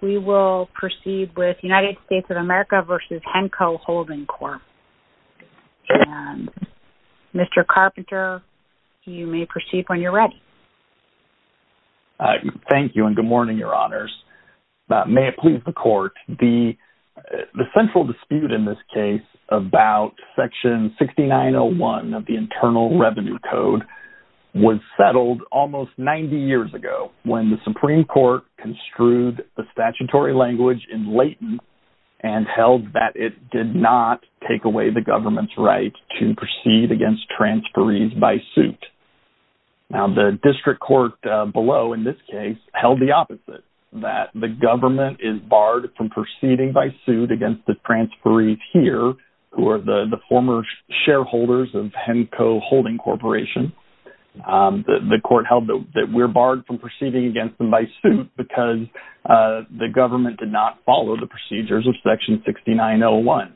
We will proceed with United States of America v. Henco Holding Corp. Mr. Carpenter, you may proceed when you're ready. Thank you and good morning, Your Honors. May it please the Court, the central dispute in this case about section 6901 of the Internal Revenue Code was settled almost 90 years ago when the the statutory language in latent and held that it did not take away the government's right to proceed against transferees by suit. Now the district court below in this case held the opposite that the government is barred from proceeding by suit against the transferees here who are the former shareholders of Henco Holding Corporation. The court held that we're barred from proceeding against them by suit because the government did not follow the procedures of section 6901.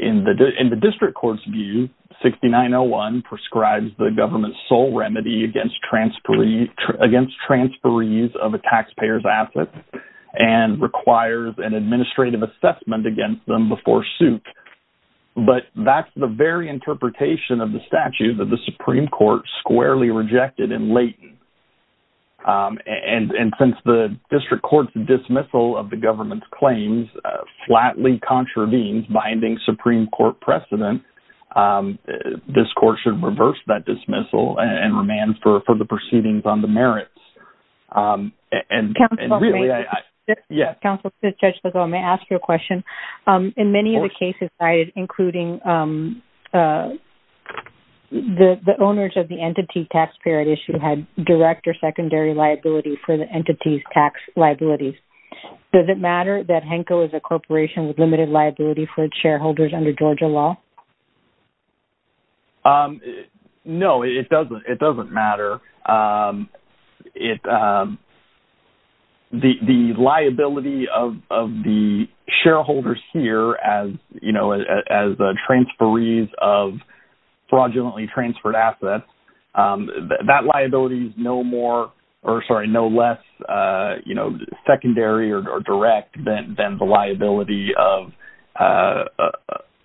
In the district court's view, 6901 prescribes the government's sole remedy against transferees of a taxpayer's assets and requires an administrative assessment against them before suit. But that's the very interpretation of the statute that the um and and since the district court's dismissal of the government's claims flatly contravenes binding Supreme Court precedent, this court should reverse that dismissal and remand for for the proceedings on the merits. And really, yes, Counsel Judge, may I ask you a question? In many of the cases cited, including the the owners of the entity taxpayer at issue had direct or secondary liability for the entity's tax liabilities. Does it matter that Henco is a corporation with limited liability for its shareholders under Georgia law? No, it doesn't. It doesn't matter. The liability of the shareholders here as, as the transferees of fraudulently transferred assets, that liability is no more or sorry, no less, you know, secondary or direct than the liability of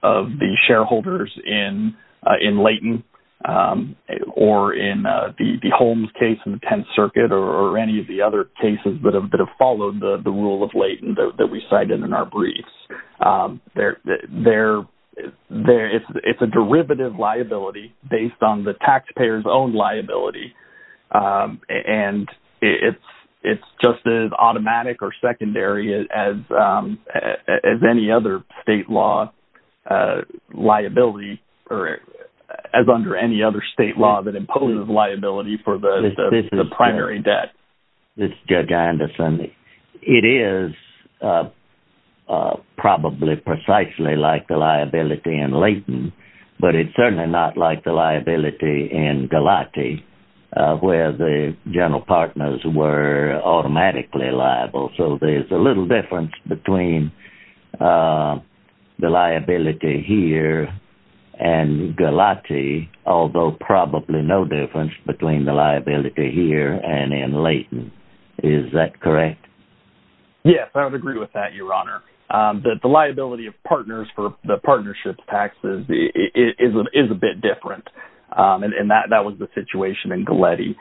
of the shareholders in in Layton or in the Holmes case in the 10th Circuit or any of the other cases that have followed the rule of Layton that we cited in our briefs. They're there. It's a derivative liability based on the taxpayer's own liability. And it's it's just as automatic or secondary as as any other state law liability or as under any other state law that imposes liability for the primary debt. It's Judge Anderson. It is probably precisely like the liability in Layton, but it's certainly not like the liability in Galati, where the general partners were automatically liable. So there's a little difference between the liability here and Galati, although probably no difference between the liability here and in Layton. Is that correct? Yes, I would agree with that, Your Honor, that the liability of partners for the partnership taxes is a bit different. And that was the situation in Galati.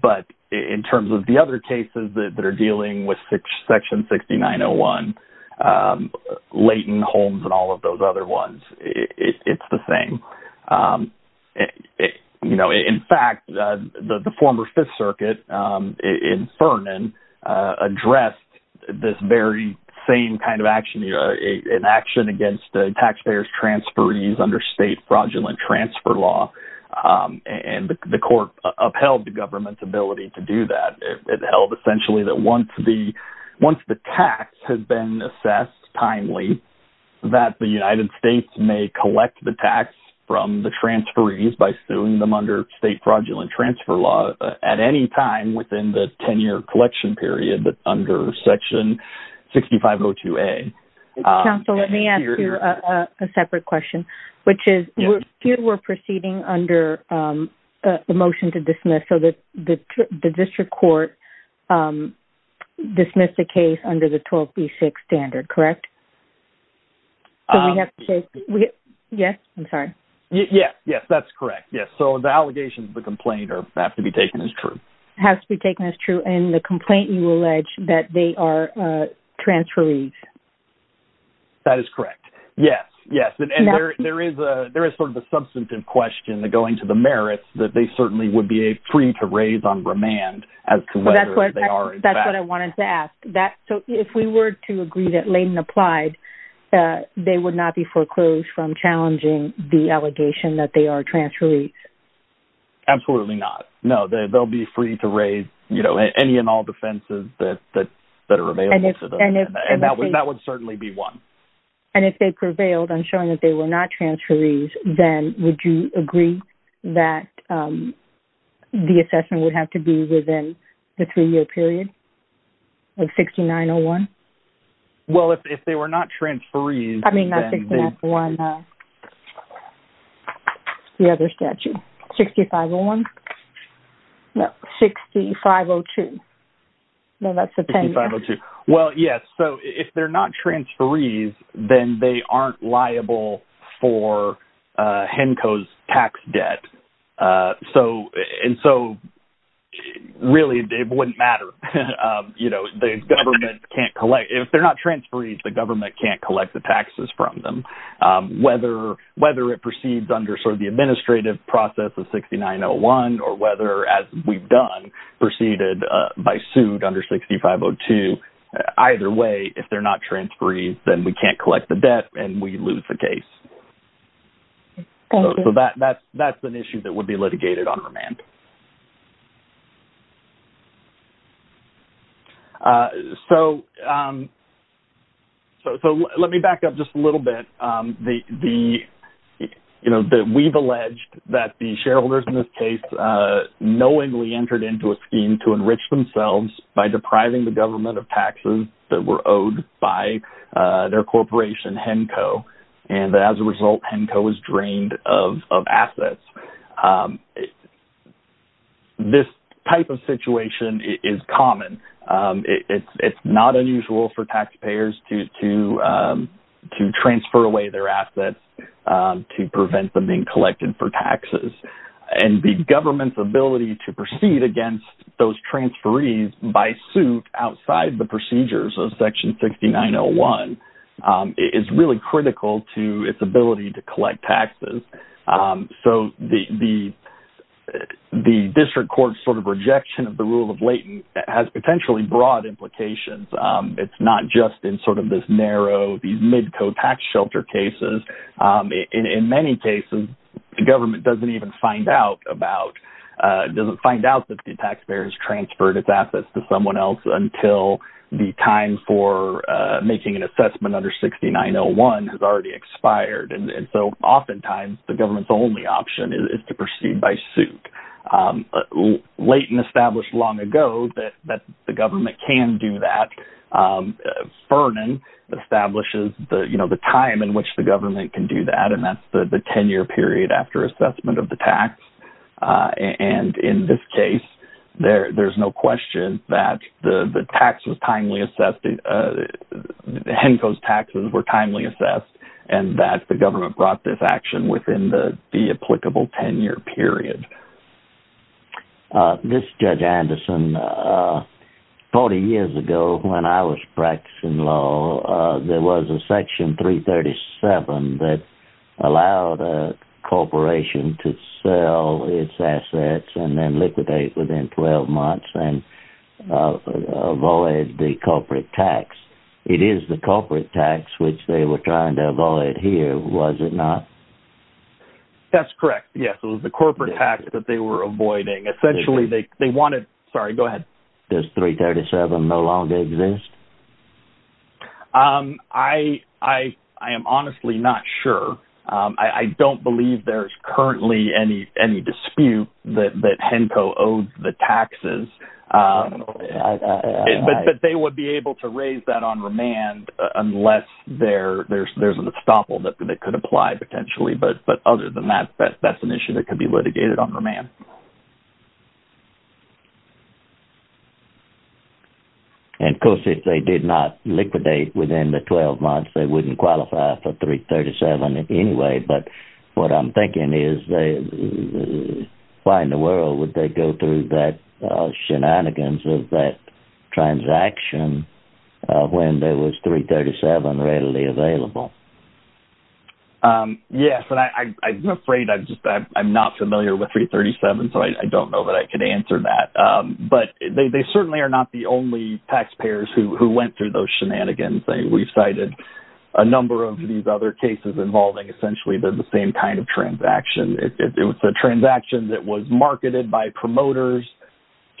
But in terms of the other cases that are dealing with Section 6901, Layton, Holmes and all of those other ones, it's the same. You know, in fact, the former Fifth Circuit in Ferdinand addressed this very same kind of action, an action against taxpayers' transferees under state fraudulent transfer law. And the once the once the tax has been assessed timely, that the United States may collect the tax from the transferees by suing them under state fraudulent transfer law at any time within the 10-year collection period under Section 6502A. Counsel, let me ask you a separate question, which is, here we're proceeding under the motion to dismiss so that the district court dismissed the case under the 12B6 standard, correct? Yes, I'm sorry. Yes, yes, that's correct. Yes. So the allegations of the complaint have to be taken as true. Has to be taken as true. And the complaint you allege that they are transferees. That is correct. Yes, yes. And there is a there is sort of a substantive question that going to the merits that they certainly would be a free to raise on remand as to whether they are. That's what I wanted to ask. That so if we were to agree that Layton applied, they would not be foreclosed from challenging the allegation that they are transferees? Absolutely not. No, they'll be free to raise, you know, any and all defenses that are available to and that would that would certainly be one. And if they prevailed on showing that they were not transferees, then would you agree that the assessment would have to be within the three-year period of 6901? Well, if they were not transferees, I mean, not 6901, but the other statute, 6501? No, 6502. No, that's a 10-year period. Well, yes. So if they're not transferees, then they aren't liable for HENCO's tax debt. So really, it wouldn't matter. You know, the government can't collect. If they're not whether it proceeds under sort of the administrative process of 6901, or whether, as we've done, proceeded by suit under 6502. Either way, if they're not transferees, then we can't collect the debt and we lose the case. So that's an issue that would be litigated on remand. So let me back up just a little bit. We've alleged that the shareholders in this case knowingly entered into a scheme to enrich themselves by depriving the government of taxes that were owed by their corporation, HENCO. And as a result, HENCO was drained of assets. And this type of situation is common. It's not unusual for taxpayers to transfer away their assets to prevent them being collected for taxes. And the government's ability to proceed against those transferees by suit outside the procedures of section 6901 is really critical to its ability to collect taxes. So the district court sort of rejection of the rule of latent has potentially broad implications. It's not just in sort of this narrow, these mid co-tax shelter cases. In many cases, the government doesn't even find out about doesn't find out that the taxpayers transferred its assets to someone else until the time for making an assessment under 6901 has already expired. And so oftentimes, the government's only option is to proceed by suit. Latent established long ago that the government can do that. Ferdinand establishes the time in which the government can do that. And that's the 10-year period after assessment of the tax. And in this case, there's no question that the tax was timely assessed. Henco's taxes were timely assessed, and that the government brought this action within the applicable 10-year period. This is Judge Anderson. 40 years ago, when I was practicing law, there was a section 337 that allowed a corporation to sell its assets and then liquidate within 12 months and avoid the corporate tax. It is the corporate tax, which they were trying to avoid here, was it not? That's correct. Yes, it was the corporate tax that they were avoiding. Essentially, they wanted... Sorry, go ahead. Does 337 no longer exist? I am honestly not sure. I don't believe there's currently any dispute that Henco owes the taxes. But they would be able to raise that on remand unless there's an estoppel that could apply potentially. But other than that, that's an issue that could be litigated on remand. And of course, if they did not liquidate within the 12 months, they wouldn't qualify for 337 anyway. But what I'm thinking is, why in the world would they go through that shenanigans of that transaction when there was 337 readily available? Yes, and I'm afraid I'm not familiar with 337, so I don't know that I can answer that. But they certainly are not the only taxpayers who went through those shenanigans. We've cited a number of these other cases involving essentially the same kind of transaction. It was a transaction that was marketed by promoters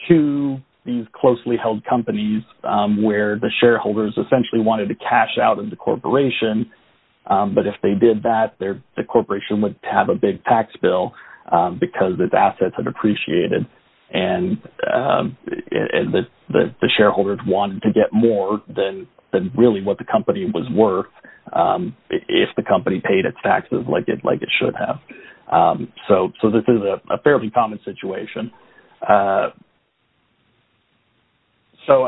to these closely held companies where the shareholders essentially wanted to cash out in the corporation. But if they did that, the corporation would have a big tax bill because its assets had depreciated and the shareholders wanted to get more than really what the company was worth if the company paid its taxes like it should have. So this is a fairly common situation. So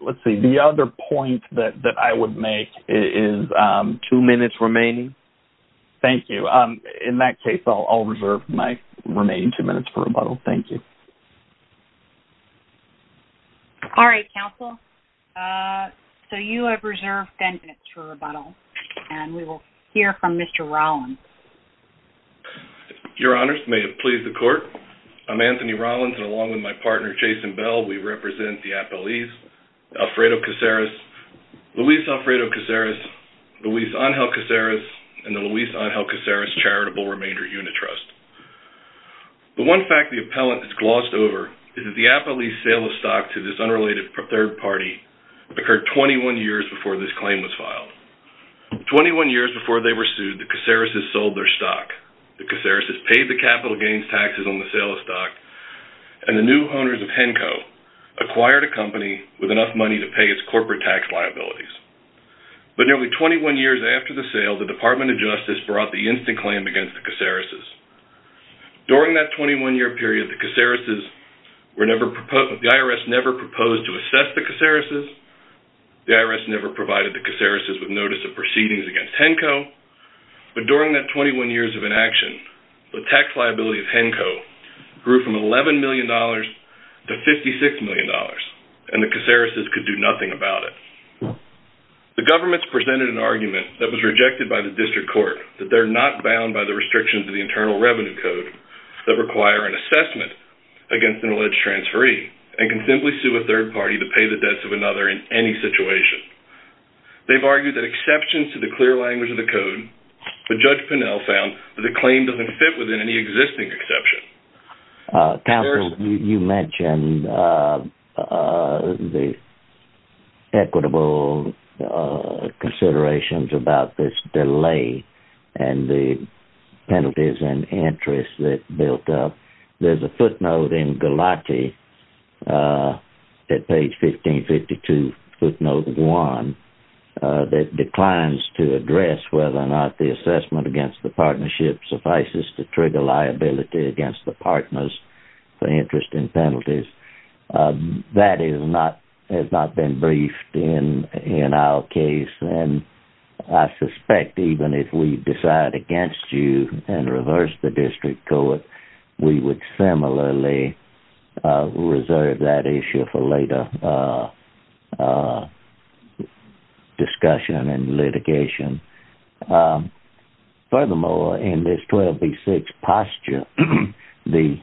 let's see. The other point that I would make is two minutes remaining. Thank you. In that case, I'll reserve my remaining two minutes for rebuttal. Thank you. All right, counsel. So you have reserved 10 minutes for rebuttal, and we will hear from Mr. Rollins. Your honors, may it please the court. I'm Anthony Rollins, and along with my partner, Jason Bell, we represent the appellees, Alfredo Caceres, Luis Alfredo Caceres, Luis Angel Caceres, and the Luis Angel Caceres Charitable Remainder Unit Trust. The one fact the appellant has glossed over is that the appellee's sale of stock to this unrelated third party occurred 21 years before this claim was filed. 21 years before they were sold their stock, the Caceres' paid the capital gains taxes on the sale of stock, and the new owners of Henco acquired a company with enough money to pay its corporate tax liabilities. But nearly 21 years after the sale, the Department of Justice brought the instant claim against the Caceres'. During that 21-year period, the Caceres' were never proposed, the IRS never proposed to assess the Caceres'. The IRS never provided the Caceres' with notice of proceedings against Henco, but during that 21 years of inaction, the tax liability of Henco grew from $11 million to $56 million, and the Caceres' could do nothing about it. The government's presented an argument that was rejected by the district court, that they're not bound by the restrictions of the Internal Revenue Code that require an assessment against an alleged transferee, and can simply sue a third party to pay the debts of another in any situation. They've argued that exceptions to the clear language of the code, but Judge Pinnell found that the claim doesn't fit within any existing exception. Counsel, you mentioned the equitable considerations about this delay, and the penalties and interest that built up. There's a footnote in Galati, uh, at page 1552, footnote one, that declines to address whether or not the assessment against the partnership suffices to trigger liability against the partners for interest in penalties. That is not, has not been briefed in our case, and I suspect even if we decide against you and reverse the district court, we would similarly reserve that issue for later discussion and litigation. Furthermore, in this 12B6 posture, the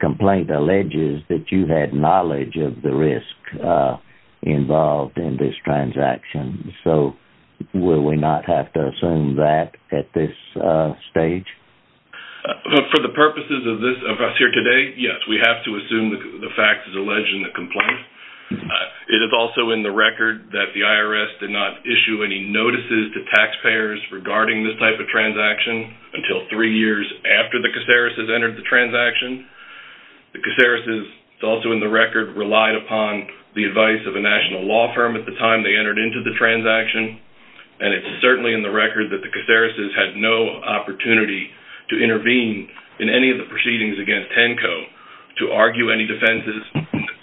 complaint alleges that you had knowledge of the risk involved in this transaction, so will we not have to assume that at this stage? For the purposes of this, of us here today, yes, we have to assume the fact is alleged in the complaint. It is also in the record that the IRS did not issue any notices to taxpayers regarding this type of transaction until three years after the Cacereses entered the transaction. The Cacereses, it's also in the record, relied upon the advice of a national law firm at the time they entered into the transaction, and it's certainly in the record that the Cacereses had no opportunity to intervene in any of the proceedings against TENCO to argue any defenses.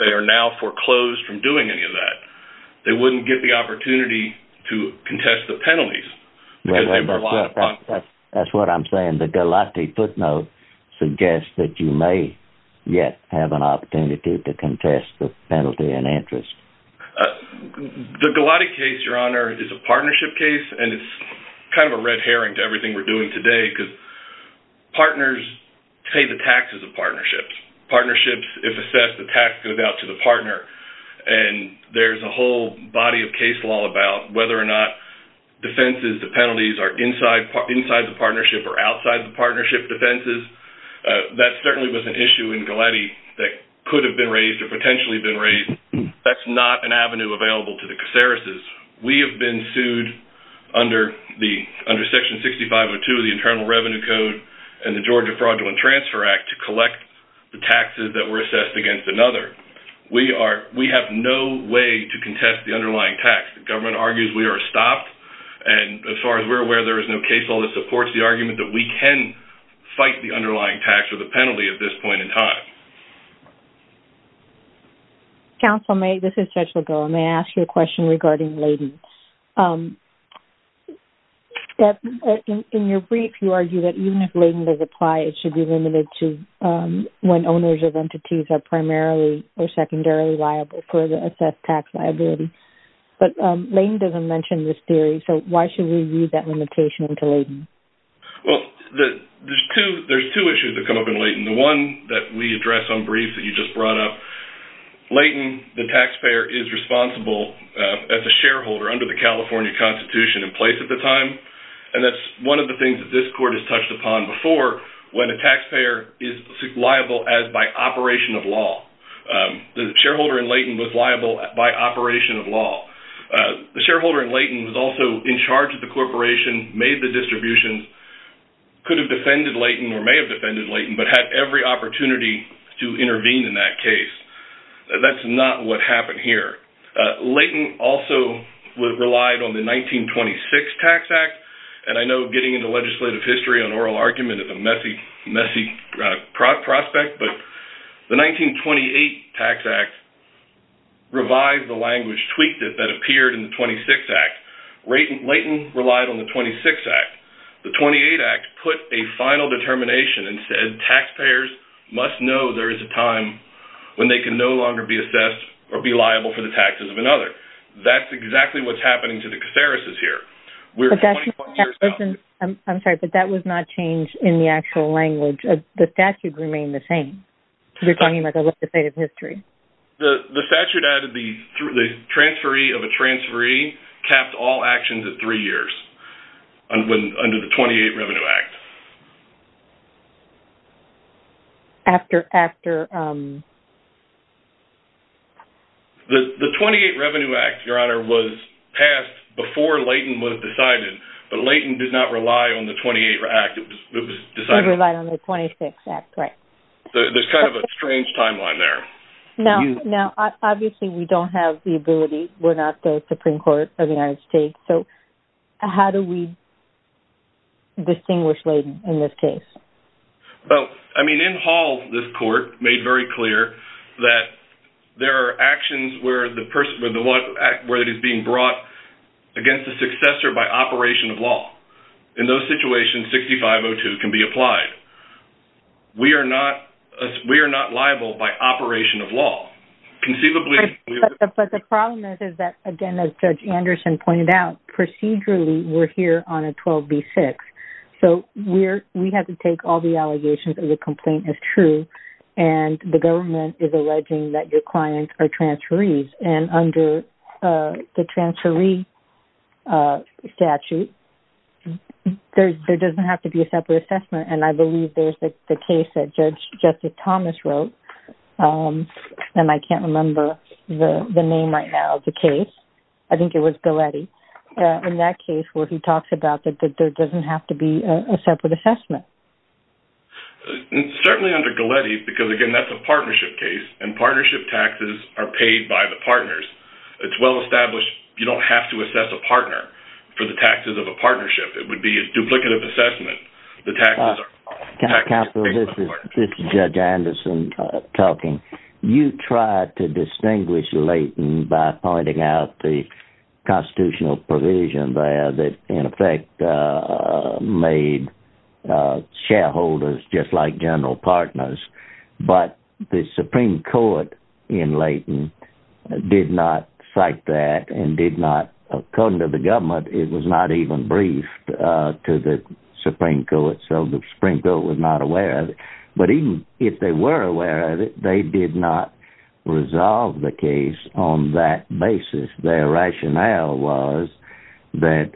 They are now foreclosed from doing any of that. They wouldn't get the opportunity to contest the penalties. That's what I'm saying. The Galati footnote suggests that you may yet have an opportunity to contest the penalty and interest. The Galati case, Your Honor, is a partnership case, and it's kind of a red herring to everything we're doing today because partners pay the taxes of partnerships. Partnerships, if assessed, the tax goes out to the partner, and there's a whole body of case law about whether or not defenses, the penalties, are inside the partnership or outside the partnership defenses. That certainly was an issue in Galati that could have been raised or potentially been raised. That's not an avenue available to the Cacereses. We have been sued under Section 6502 of the Internal Revenue Code and the Georgia Fraudulent Transfer Act to collect the taxes that were assessed against another. We have no way to contest the underlying tax. The government argues we are stopped, and as far as we're aware, there is no case law that supports the argument that we can fight the underlying tax or the penalty at this point in time. Counsel, may I ask you a question regarding lading? In your brief, you argue that even if lading does apply, it should be limited to when owners of entities are primarily or secondarily liable for the assessed tax liability. But lading doesn't mention this theory, so why should we use that limitation into lading? Well, there's two issues that come up in lading. The one that we address on briefs that you just brought up, lading, the taxpayer, is responsible as a shareholder under the California Constitution in place at the time, and that's one of the things that this court has touched upon before when a taxpayer is liable as by operation of law. The shareholder in lading was liable by operation of law. The shareholder in lading was also in charge of the corporation, made the distribution, could have defended lading or may have defended lading, but had every opportunity to intervene in that case. That's not what happened here. Lading also relied on the 1926 Tax Act, and I know getting into legislative history on oral argument is a messy prospect, but the 1928 Tax Act revised the language, tweaked it, that appeared in the 26th Act. Lading relied on the 26th Act. The 28th Act put a final determination and said taxpayers must know there is a time when they can no longer be assessed or be liable for the taxes of another. That's exactly what's happening to the catharsis here. I'm sorry, but that was not changed in the actual language. The statute remained the same. You're talking about the legislative history. The statute added the transferee of a transferee capped all actions at three years under the 28th Revenue Act. The 28th Revenue Act, Your Honor, was passed before lading was decided, but lading did not rely on the 28th Act. It was decided... It relied on the 26th Act, right. There's kind of a strange timeline there. Now, obviously, we don't have the ability. We're not the Supreme Court of the United States. So, how do we distinguish lading in this case? I mean, in Hall, this court made very clear that there are actions where it is being brought against the successor by operation of law. In those situations, 6502 can be applied. We are not liable by operation of law. Conceivably... But the problem is that, again, as Judge Anderson pointed out, procedurally, we're here on a 12B6. So, we have to take all the allegations of the complaint as true, and the government is alleging that your clients are transferees. And under the transferee statute, there doesn't have to be a separate assessment. And I believe there's the case that Judge Justice Thomas wrote. And I can't remember the name right now of the case. I think it was Galletti. In that case where he talks about that there doesn't have to be a separate assessment. Certainly under Galletti, because, again, that's a partnership case, and partnership taxes are paid by the partners. It's well-established. You don't have to assess a partner for the taxes of a partnership. It would be a duplicative assessment. Counsel, this is Judge Anderson talking. You tried to distinguish Layton by pointing out the constitutional provision there that, in effect, made shareholders just like general partners. But the Supreme Court in Layton did not cite that and did not, according to the government, it was not even briefed to the Supreme Court. So, the Supreme Court was not aware of it. But even if they were aware of it, they did not resolve the case on that basis. Their rationale was that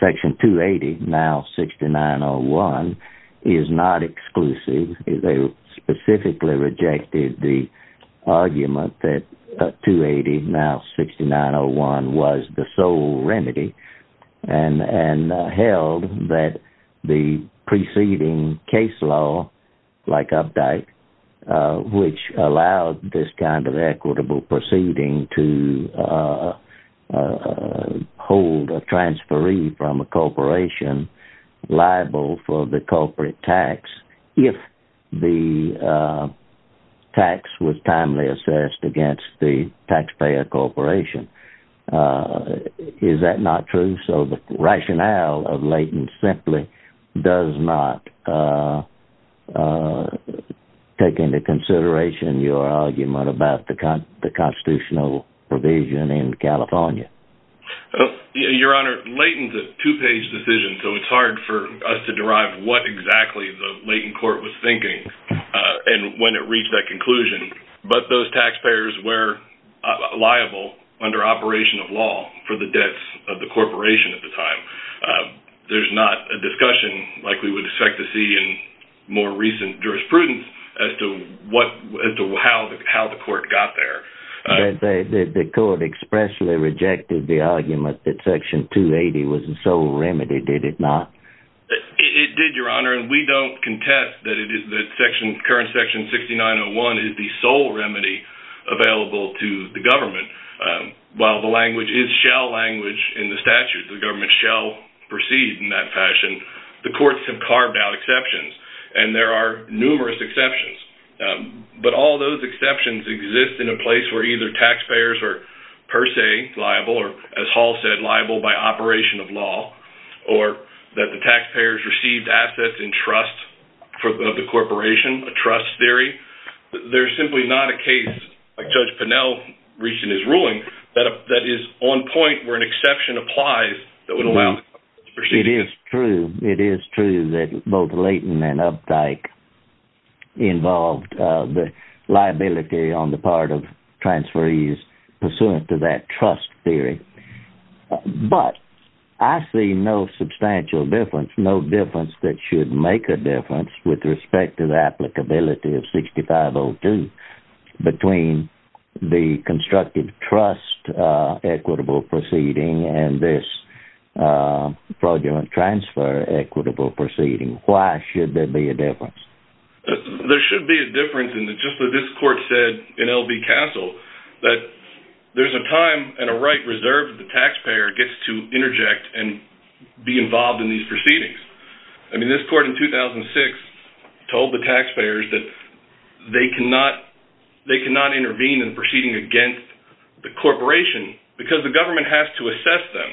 Section 280, now 6901, is not exclusive. They specifically rejected the argument that 280, now 6901, was the sole remedy and held that the preceding case law, like Updike, which allowed this kind of equitable proceeding to hold a transferee from a corporation liable for the corporate tax if the tax was timely assessed against the taxpayer corporation. Is that not true? So, the rationale of Layton simply does not take into consideration your argument about the constitutional provision in California. Your Honor, Layton's a two-page decision, so it's hard for us to derive what exactly the Layton court was thinking and when it reached that conclusion. But those taxpayers were liable under operation of law for the debts of the corporation at the time. There's not a discussion like we would expect to see in more recent jurisprudence as to how the court got there. The court expressly rejected the argument that Section 280 was the sole remedy, did it not? It did, Your Honor, and we don't contest that current Section 6901 is the sole remedy available to the government. While the language in the statute, the government shall proceed in that fashion, the courts have carved out exceptions, and there are numerous exceptions. But all those exceptions exist in a place where either taxpayers are per se liable, or as Hall said, liable by operation of law, or that the taxpayers received assets in trust of the corporation, a trust theory. There's simply not a case, like Judge Pinnell reached in his ruling, that is on point where an exception applies that would allow... It is true, it is true that both Layton and Updike involved the liability on the part of transferees pursuant to that trust theory. But I see no substantial difference, no difference that should make a difference with respect to the applicability of 6502 between the constructive trust equitable proceeding and this fraudulent transfer equitable proceeding. Why should there be a difference? There should be a difference, and just as this court said in L.B. Castle, that there's a time and a right reserved the taxpayer gets to interject and be involved in these proceedings. I mean, this court in 2006 told the taxpayers that they cannot intervene in proceeding against the corporation because the government has to assess them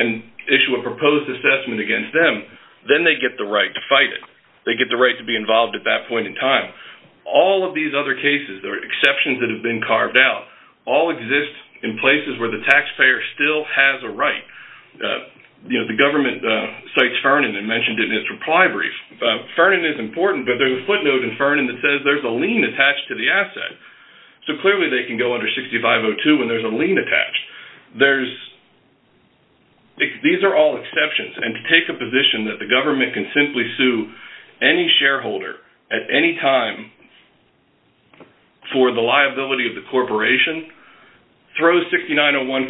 and issue a proposed assessment against them, then they get the right to fight it. They get the right to be involved at that point in time. All of these other cases, there are exceptions that have been carved out, all exist in places where the taxpayer still has a right. The government cites Fernand and mentioned it in its reply brief. Fernand is important, but there's a footnote in Fernand that says there's a lien attached to the asset. So clearly they can go under 6502 when there's a lien attached. These are all exceptions, and to take a position that the government can simply sue any shareholder at any time for the liability of the corporation throws 6901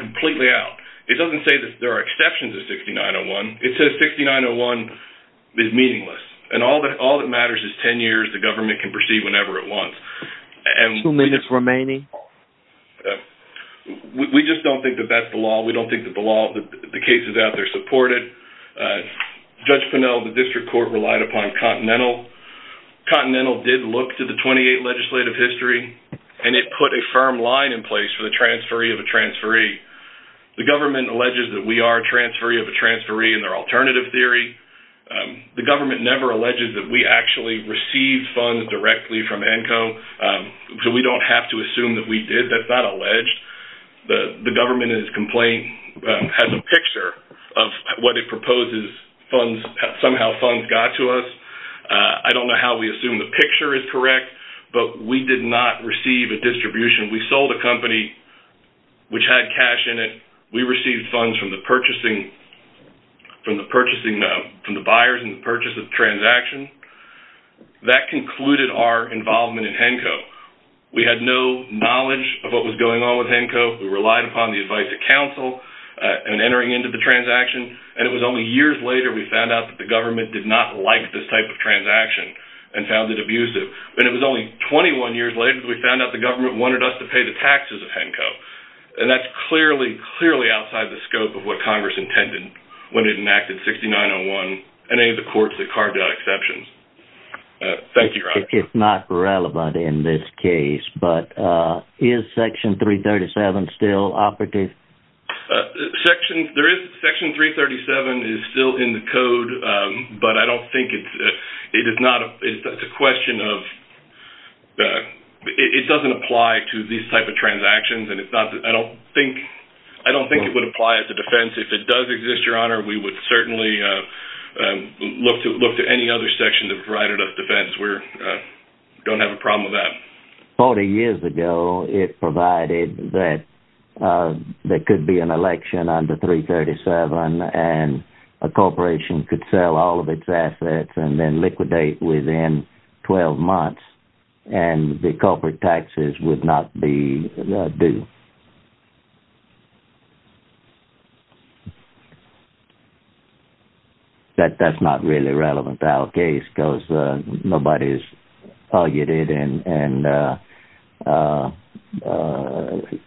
completely out. It doesn't say that there are exceptions to 6901. It says 6901 is meaningless, and all that matters is 10 years the government can proceed whenever it wants. Two minutes remaining. We just don't think that that's the law. We don't think that the law, the cases out there support it. Judge Pinnell, the district court relied upon Continental. Continental did look to the 28 legislative history, and it put a firm line in place for the transferee of a transferee. The government alleges that we are a transferee of a transferee in their alternative theory. The government never alleges that we actually received funds directly from ENCO, so we don't have to assume that we did. That's not what the government got to us. I don't know how we assume the picture is correct, but we did not receive a distribution. We sold a company which had cash in it. We received funds from the purchasing, from the purchasing, from the buyers in the purchase of the transaction. That concluded our involvement in ENCO. We had no knowledge of what was going on with ENCO. We relied upon the advice of counsel and entering into the transaction, and it was only years later we found out that the government did not like this type of transaction and found it abusive, and it was only 21 years later we found out the government wanted us to pay the taxes of ENCO, and that's clearly, clearly outside the scope of what Congress intended when it enacted 6901 and any of the courts that carved out exceptions. Thank you, Roger. It's not relevant in this case, but is Section 337 still operative? Section, there is, Section 337 is still in the code, but I don't think it's, it is not, it's a question of, it doesn't apply to these type of transactions, and it's not, I don't think, I don't think it would apply at the defense. If it does exist, Your Honor, we would certainly look to, look to any other sections of the variety of defense. We're, don't have a problem with that. 40 years ago, it provided that there could be an election under 337, and a corporation could sell all of its assets and then liquidate within 12 months, and the corporate taxes would not be due. That, that's not really relevant to our case, because nobody's argued it, and, and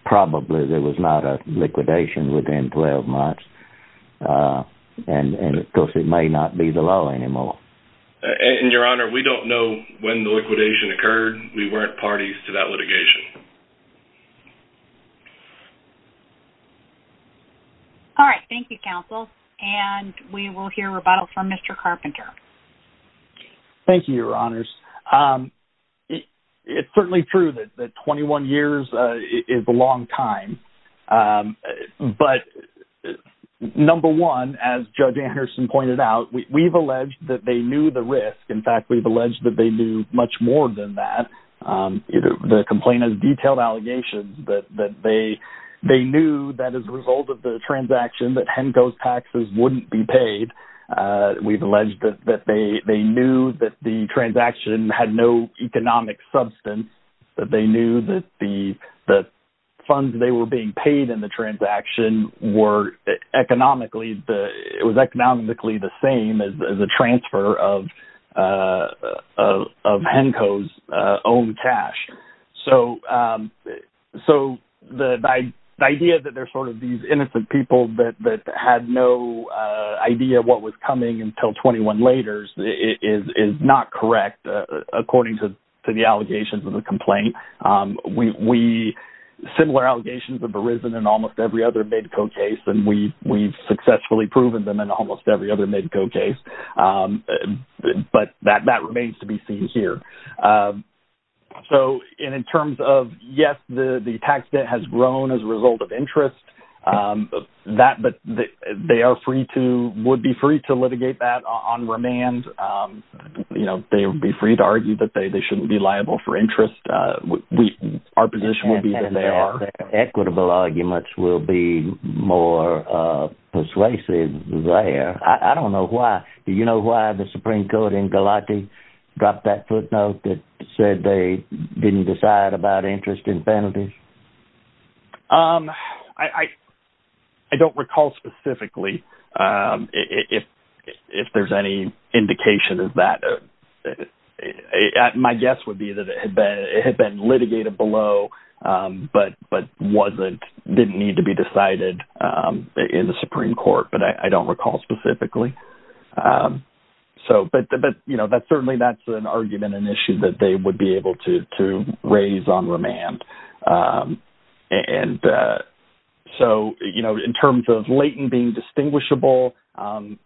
probably there was not a liquidation within 12 months, and, and of course, it may not be the law anymore. And, Your Honor, we don't know when the liquidation occurred. We weren't parties to that litigation. All right. Thank you, Counsel, and we will hear rebuttals from Mr. Carpenter. Thank you, Your Honors. It's certainly true that 21 years is a long time, but number one, as Judge Anderson pointed out, we've alleged that they knew the risk. In fact, we've alleged that they knew much more than that. The complaint has detailed allegations that, that they, they knew that as a result of the transaction, that HENCO's taxes wouldn't be paid. We've alleged that, that they, they knew that the transaction had no economic substance, that they knew that the, the funds they were being paid in the transaction were economically, it was economically the same as the transfer of, of HENCO's own cash. So, so the, the idea that they're sort of these innocent people that, that had no idea what was coming until 21 laters is, is not correct, according to the allegations of the complaint. We, we, similar allegations have almost every other MEDCO case, and we, we've successfully proven them in almost every other MEDCO case. But that, that remains to be seen here. So, and in terms of, yes, the tax debt has grown as a result of interest, that, but they are free to, would be free to litigate that on remand. You know, they would be free to argue that they, they shouldn't be liable for interest. We, our position would be that they are. And that, that equitable arguments will be more persuasive there. I, I don't know why. Do you know why the Supreme Court in Galati dropped that footnote that said they didn't decide about interest in penalties? Um, I, I, I don't recall specifically, um, if, if, if there's any indication of that. Uh, my guess would be that it had been, it had been litigated below, um, but, but wasn't, didn't need to be decided, um, in the Supreme Court, but I, I don't recall specifically. Um, so, but, but, you know, that's certainly, that's an argument, an issue that they would be able to, to raise on remand. Um, and, uh, so, you know, in terms of latent being distinguishable, um,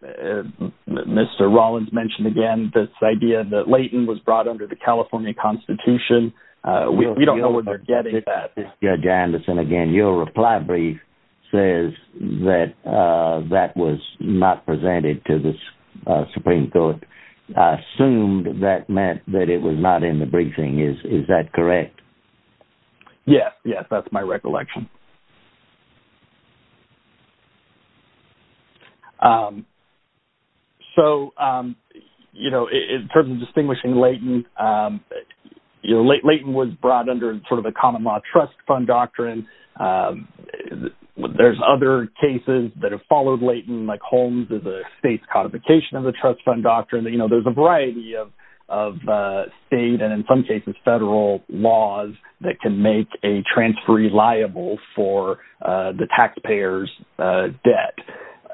Mr. Rollins mentioned again, this idea that latent was brought under the California constitution. Uh, we, we don't know where they're getting that. Judge Anderson, again, your reply brief says that, uh, that was not presented to the Supreme Court. I assumed that meant that it was not in the briefing. Is, is that correct? Yes. Yes. That's my recollection. Um, so, um, you know, in terms of distinguishing latent, um, you know, latent was brought under sort of the common law trust fund doctrine. Um, there's other cases that have followed latent, like Holmes is a state's codification of the trust fund doctrine that, you know, there's a variety of, of, uh, state and in some cases, federal laws that can a transferee liable for, uh, the tax payers, uh, debt.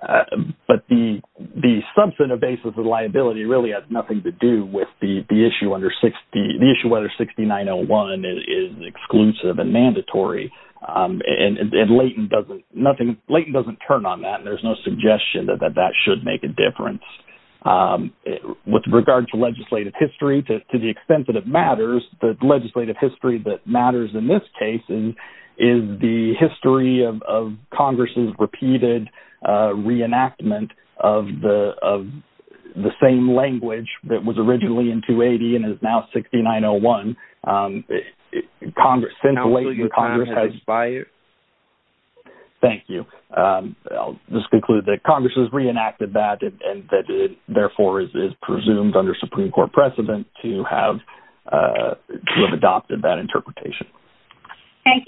Uh, but the, the substantive basis of liability really has nothing to do with the, the issue under 60, the issue whether 6901 is exclusive and mandatory. Um, and, and, and latent doesn't nothing, latent doesn't turn on that. And there's no suggestion that, that, that should make a difference. Um, with regard to legislative history, to, to the extent that it matters, the legislative history that matters in this case is, is the history of, of Congress's repeated, uh, reenactment of the, of the same language that was originally in 280 and is now 6901. Um, Congress, since the late, the Congress has... Thank you. Um, I'll just conclude that Congress has reenacted that and that it therefore is, is presumed under Supreme court precedent to have, uh, to have adopted that interpretation. Thank you.